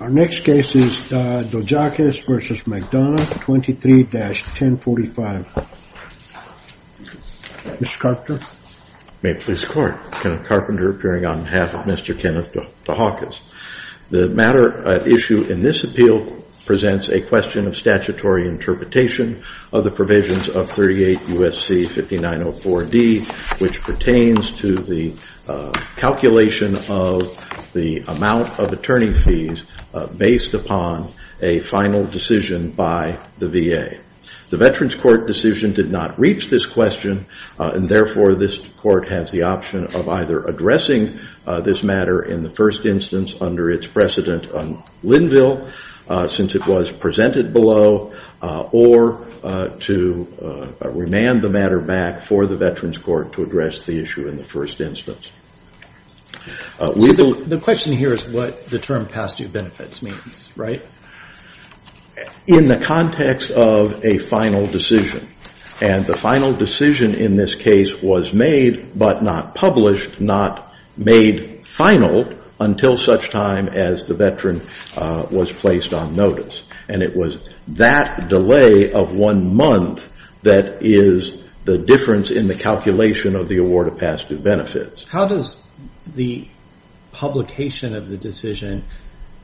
Our next case is Dojaquez v. McDonough 23-1045. Mr. Carpenter. May it please the court. Kenneth Carpenter appearing on behalf of Mr. Kenneth Dojaquez. The matter at issue in this appeal presents a question of statutory interpretation of the provisions of 38 U.S.C. 5904 D which pertains to the calculation of the amount of attorney fees based upon a final decision by the VA. The Veterans Court decision did not reach this question and therefore this court has the option of either addressing this matter in the first instance under its precedent on Linville since it was presented below or to remand the matter back for the Veterans Court to address the issue in the term past due benefits means, right? In the context of a final decision and the final decision in this case was made but not published, not made final until such time as the Veteran was placed on notice and it was that delay of one month that is the difference in the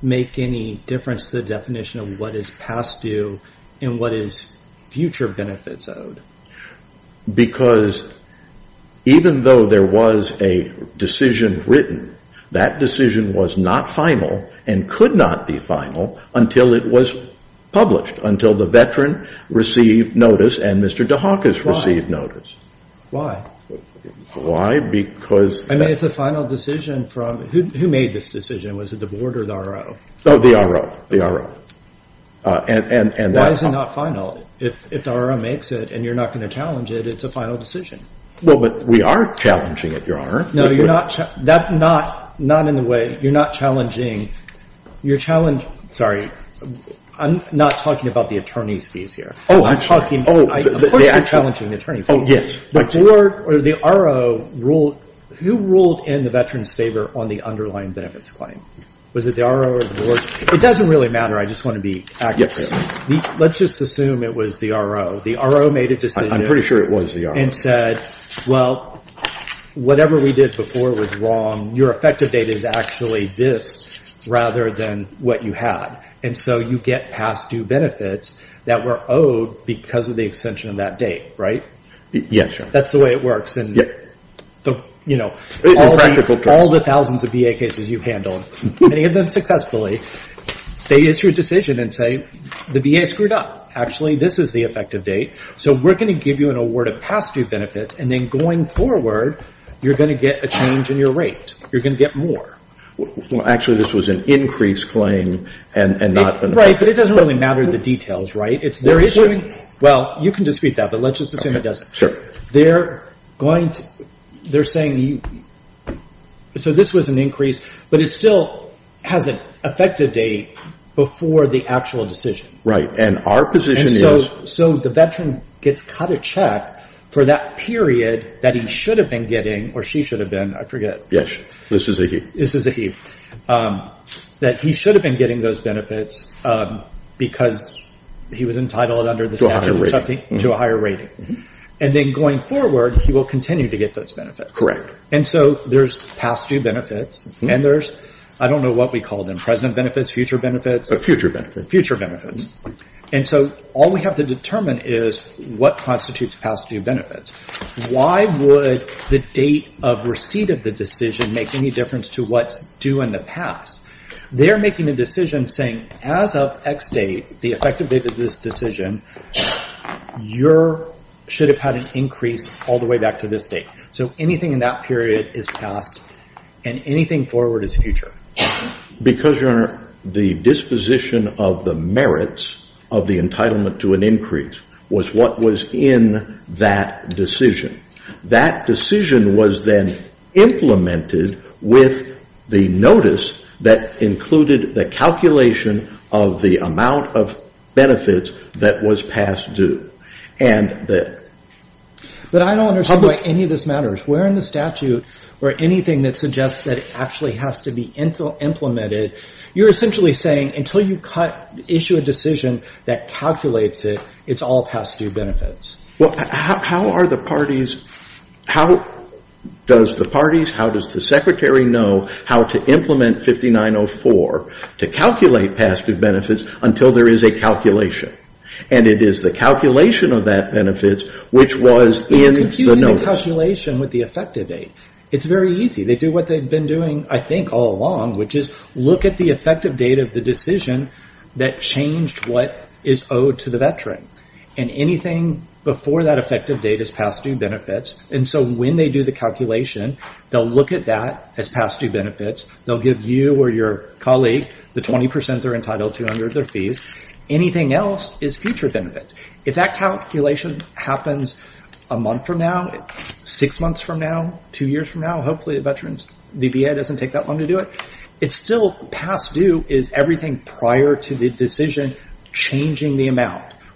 make any difference to the definition of what is past due and what is future benefits owed? Mr. Carpenter. Because even though there was a decision written, that decision was not final and could not be final until it was published, until the Veteran received notice and Mr. Dojaquez received notice. Kenneth Carpenter. Why? Mr. Carpenter. Why? Because it's a final decision from, who made this decision? Was it the board or the RO? Kenneth Carpenter. Oh, the RO. The RO. And that's all. Mr. Laird. Why is it not final? If the RO makes it and you're not going to challenge it, it's a final decision. Kenneth Carpenter. Well, but we are challenging it, Your Honor. Mr. Laird. No, you're not, that's not, not in the way, you're not challenging, you're challenging, sorry, I'm not talking about the attorney's fees here. I'm talking, of course you're challenging the attorney's fees. Kenneth Carpenter. Oh, yes. You ruled in the Veteran's favor on the underlying benefits claim. Was it the RO or the board? It doesn't really matter, I just want to be accurate. Let's just assume it was the RO. The RO made a decision. Mr. Laird. I'm pretty sure it was the RO. Kenneth Carpenter. And said, well, whatever we did before was wrong, your effective date is actually this rather than what you had. And so you get past due benefits that were owed because of the extension of that date, right? Mr. Laird. Yes, Your Honor. That's the way it works. And, you know, all the thousands of VA cases you've handled, many of them successfully, they issue a decision and say, the VA screwed up. Actually, this is the effective date. So we're going to give you an award of past due benefits, and then going forward, you're going to get a change in your rate. You're going to get more. Kenneth Carpenter. Well, actually, this was an increased claim and not been... Mr. Laird. Right, but it doesn't really matter the details, right? It's their issuing, well, you can dispute that, but let's just assume it doesn't. They're going to, they're saying, so this was an increase, but it still has an effective date before the actual decision. And so the veteran gets cut a check for that period that he should have been getting, or she should have been, I forget. Mr. Laird. Yes, this is a he. Kenneth Carpenter. This is a he. That he should have been getting those benefits because he was entitled under the statute to a higher rating. And then going forward, he will continue to get those benefits. Mr. Laird. Correct. Kenneth Carpenter. And so there's past due benefits, and there's, I don't know what we call them, present benefits, future benefits. Mr. Laird. Future benefits. Kenneth Carpenter. Future benefits. And so all we have to determine is what constitutes past due benefits. Why would the date of receipt of the decision make any difference to what's due in the past? They're making a decision saying, as of X date, the effective date of this decision, you should have had an increase all the way back to this date. So anything in that period is past, and anything forward is future. Mr. Laird. Because, Your Honor, the disposition of the merits of the entitlement to an increase was what was in that decision. That decision was then implemented with the notice that included the calculation of the amount of benefits that was past due. And that... Kenneth Carpenter. But I don't understand why any of this matters. Where in the statute, or anything that suggests that it actually has to be implemented, you're essentially saying, until you cut, issue a decision that calculates it, it's all past due benefits. Mr. Laird. Well, how are the parties, how does the parties, how does the Secretary know how to implement 5904 to calculate past due benefits until there is a calculation? And it is the calculation of that benefits which was in the notice. Kenneth Carpenter. You're confusing the calculation with the effective date. It's very easy. They do what they've been doing, I think, all along, which is look at the effective date of the decision that changed what is owed to the veteran. And anything before that effective date is past due benefits. And so when they do the calculation, they'll look at that as past due benefits. They'll give you or your colleague the 20% they're entitled to under their fees. Anything else is future benefits. If that calculation happens a month from now, six months from now, two years from now, hopefully the veterans, DBA doesn't take that long to do it. It's still past due,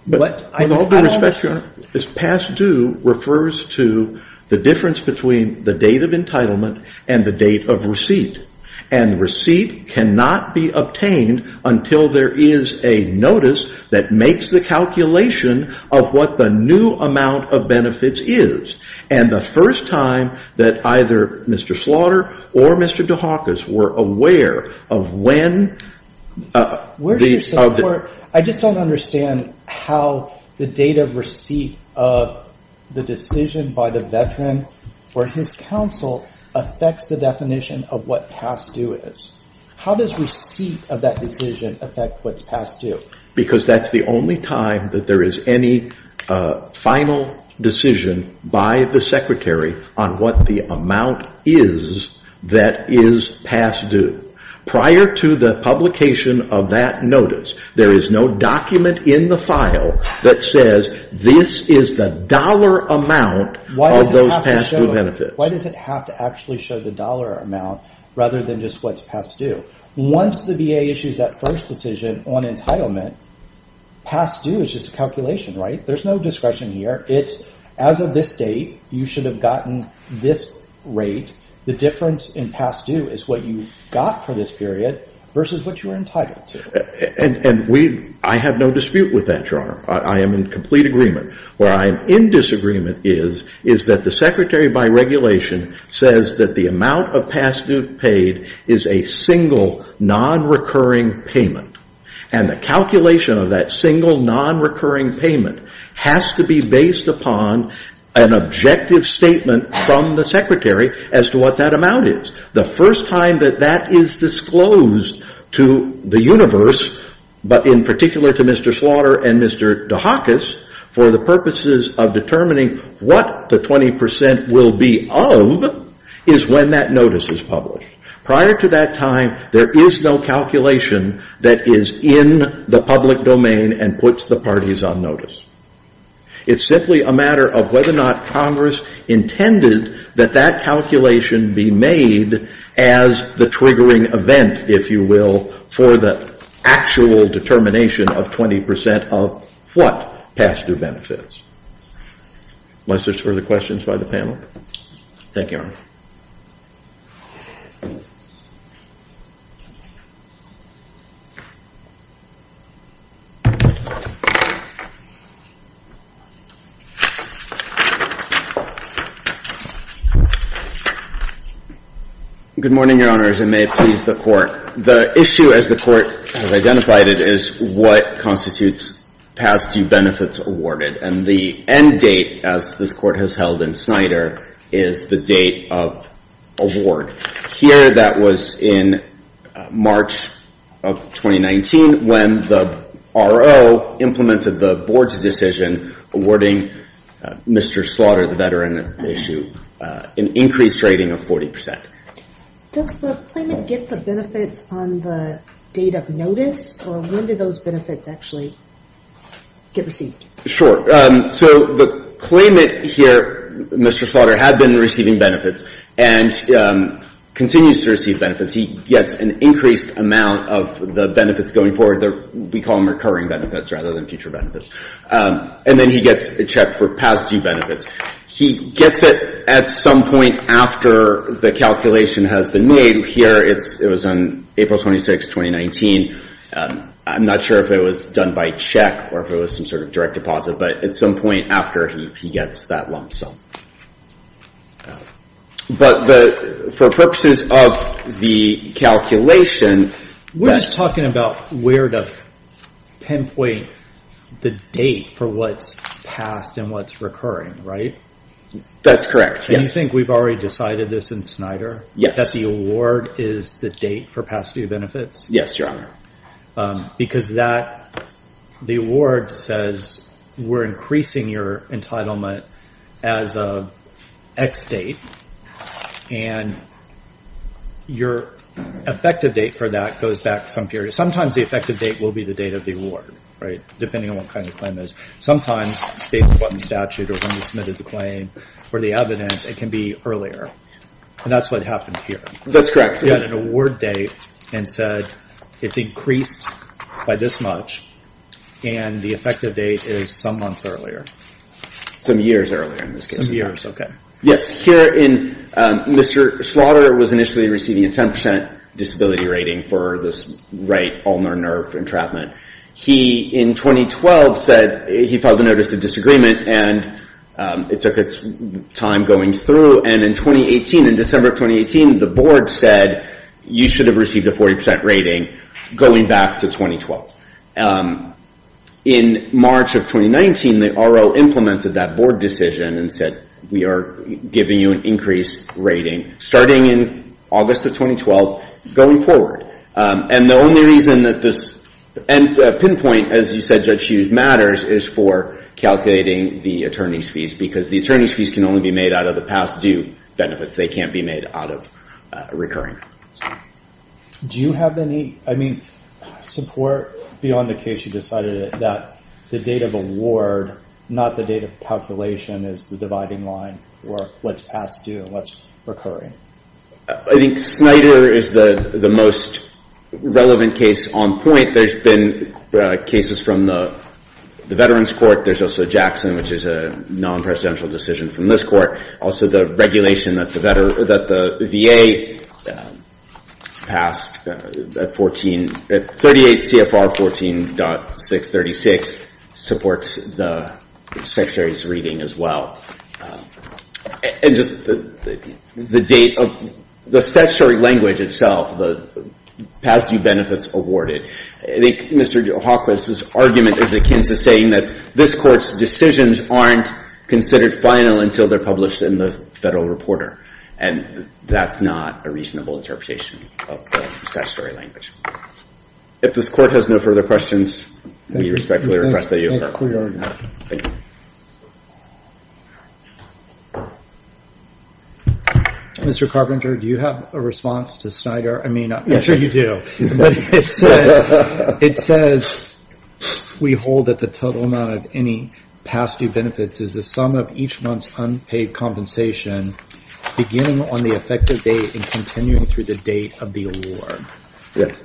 but with all due respect, past due refers to the difference between the date of entitlement and the date of receipt. And the receipt cannot be obtained until there is a notice that makes the calculation of what the new amount of benefits is. And the first time that either Mr. Slaughter or Mr. DeHakis were aware of when... I just don't understand how the date of receipt of the decision by the veteran for his counsel affects the definition of what past due is. How does receipt of that decision affect what's past due? Because that's the only time that there is any final decision by the secretary on what the amount is that is past due. Prior to the publication of that notice, there is no document in the file that says this is the dollar amount of those past due benefits. Why does it have to actually show the dollar amount rather than just what's past due? Once the VA issues that first decision on entitlement, past due is just a calculation, right? There's no discretion here. It's as of this date, you should have gotten this rate. The difference in past due is what you got for this period versus what you were entitled to. And I have no dispute with that, Your Honor. I am in complete agreement. Where I am in disagreement is that the secretary by regulation says that the amount of past due paid is a single, non-recurring payment. And the calculation of that single, non-recurring payment has to be based upon an objective statement from the secretary as to what that amount is. The first time that that is disclosed to the universe, but in particular to Mr. Slaughter and Mr. DeHakis, for the purposes of determining what the 20% will be of, is when that notice is published. Prior to that time, there is no calculation that is in the public domain and puts the parties on notice. It's simply a matter of whether or not Congress intended that that calculation be made as the triggering event, if you will, for the actual determination of 20% of what past due is. Good morning, Your Honors, and may it please the Court. The issue, as the Court has identified it, is what constitutes past due benefits awarded. And the end date, as this Court has held in Snyder, is the date of award. Here, that was in March of 2019, when the RO implemented the Board's decision awarding Mr. Slaughter, the veteran, an increased rating of 40%. Does the claimant get the benefits on the date of notice, or when do those benefits actually get received? Sure. So the claimant here, Mr. Slaughter, had been receiving benefits and continues to receive benefits. He gets an increased amount of the benefits going forward. We call them recurring benefits rather than future benefits. And then he gets checked for past due benefits. He gets it at some point after the calculation has been made. Here, it was on April 26, 2019. I'm not sure if it was done by check or if it was some sort of direct deposit, but at some point after he gets that lump sum. But for purposes of the calculation... We're just talking about where to pinpoint the date for what's past and what's recurring, right? That's correct, yes. And you think we've already decided this in Snyder? Yes. That the award is the date for past due benefits? Yes, Your Honor. Because the award says we're increasing your entitlement as of X date. And your effective date for that goes back some period. Sometimes the effective date will be the date of the award, right? Depending on what kind of claim it is. Sometimes based upon statute or when you submitted the claim or the evidence, it can be earlier. And that's what happened here. That's correct. You had an award date and said it's increased by this much. And the effective date is some months earlier. Some years earlier in this case. Some years, okay. Yes. Here in Mr. Slaughter was initially receiving a 10% disability rating for this right ulnar nerve entrapment. He, in 2012, said he filed a notice of disagreement and it took its time going through. And in 2018, in December of 2018, the board said you should have received a 40% rating going back to 2012. In March of 2019, the RO implemented that board decision and said we are giving you an increased rating starting in August of 2012 going forward. And the only reason that this pinpoint, as you said, Judge Hughes, matters is for calculating the attorney's fees because the attorney's fees can only be made out of the past due benefits. They can't be made out of recurring. Do you have any, I mean, support beyond the case you decided that the date of award, not the date of calculation, is the dividing line for what's past due and what's recurring? I think Snyder is the most relevant case on point. There's been cases from the Veterans Court. There's also Jackson, which is a non-presidential decision from this court. Also, the regulation that the VA passed at 38 CFR 14.636 supports the Secretary's reading as well. And just the date of the statutory language itself, the past due benefits awarded. I think Mr. Hawquist's argument is akin to saying that this court's decisions aren't considered final until they're published in the federal reporter. And that's not a reasonable interpretation of the statutory language. If this court has no further questions, we respectfully request that you refer. Mr. Carpenter, do you have a response to Snyder? I mean, I'm sure you do. It says, we hold that the total amount of any past due benefits is the sum of each month's unpaid compensation beginning on the effective date and continuing through the date of the award. Yes.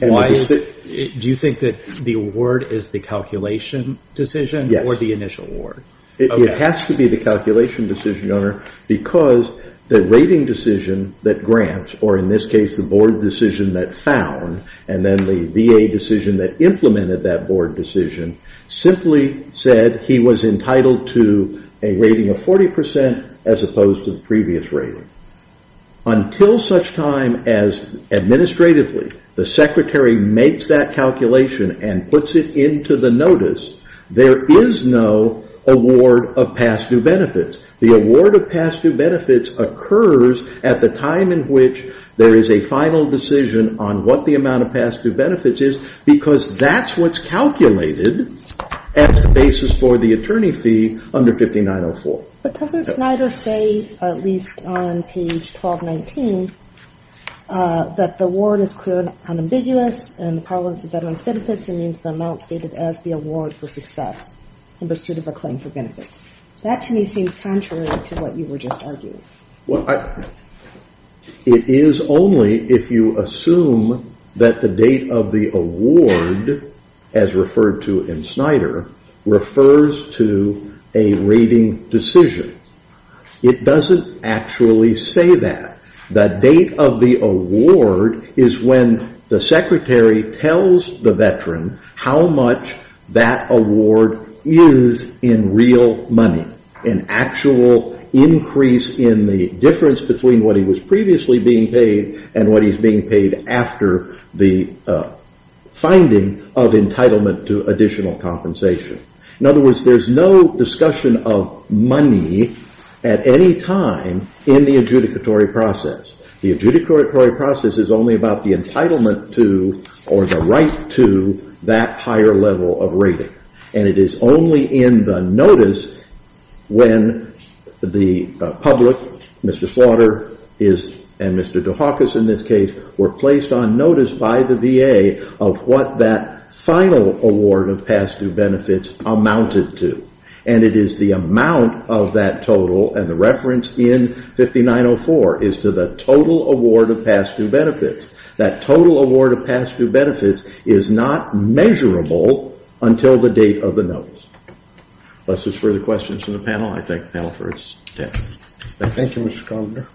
Do you think that the award is the calculation decision or the initial award? It has to be the calculation decision, Your Honor, because the rating decision that grants, or in this case, the board decision that found, and then the VA decision that implemented that board decision, simply said he was entitled to a rating of 40% as opposed to the previous rating. Until such time as, administratively, the secretary makes that calculation and puts it into the notice, there is no award of past due benefits. The award of past due benefits occurs at the time in which there is a final decision on what the amount of past due benefits is, because that's what's calculated as the basis for the attorney fee under 5904. Doesn't Snyder say, at least on page 1219, that the award is clearly unambiguous in the prevalence of veterans' benefits and means the amount stated as the award for success in pursuit of a claim for benefits? That, to me, seems contrary to what you were just arguing. It is only if you assume that the date of the award, as referred to in Snyder, refers to a rating decision. It doesn't actually say that. The date of the award is when the secretary tells the veteran how much that award is in real money, an actual increase in the difference between what he was previously being paid and what he's being paid after the finding of entitlement to additional compensation. In other words, there's no discussion of money at any time in the adjudicatory process. The adjudicatory process is only about the entitlement to or the right to that higher level of rating. It is only in the notice when the public, Mr. Snyder. That final award of past due benefits amounted to, and it is the amount of that total, and the reference in 5904, is to the total award of past due benefits. That total award of past due benefits is not measurable until the date of the notice. Unless there's further questions from the panel, I thank the panel for its attention. Thank you, Mr. Conger.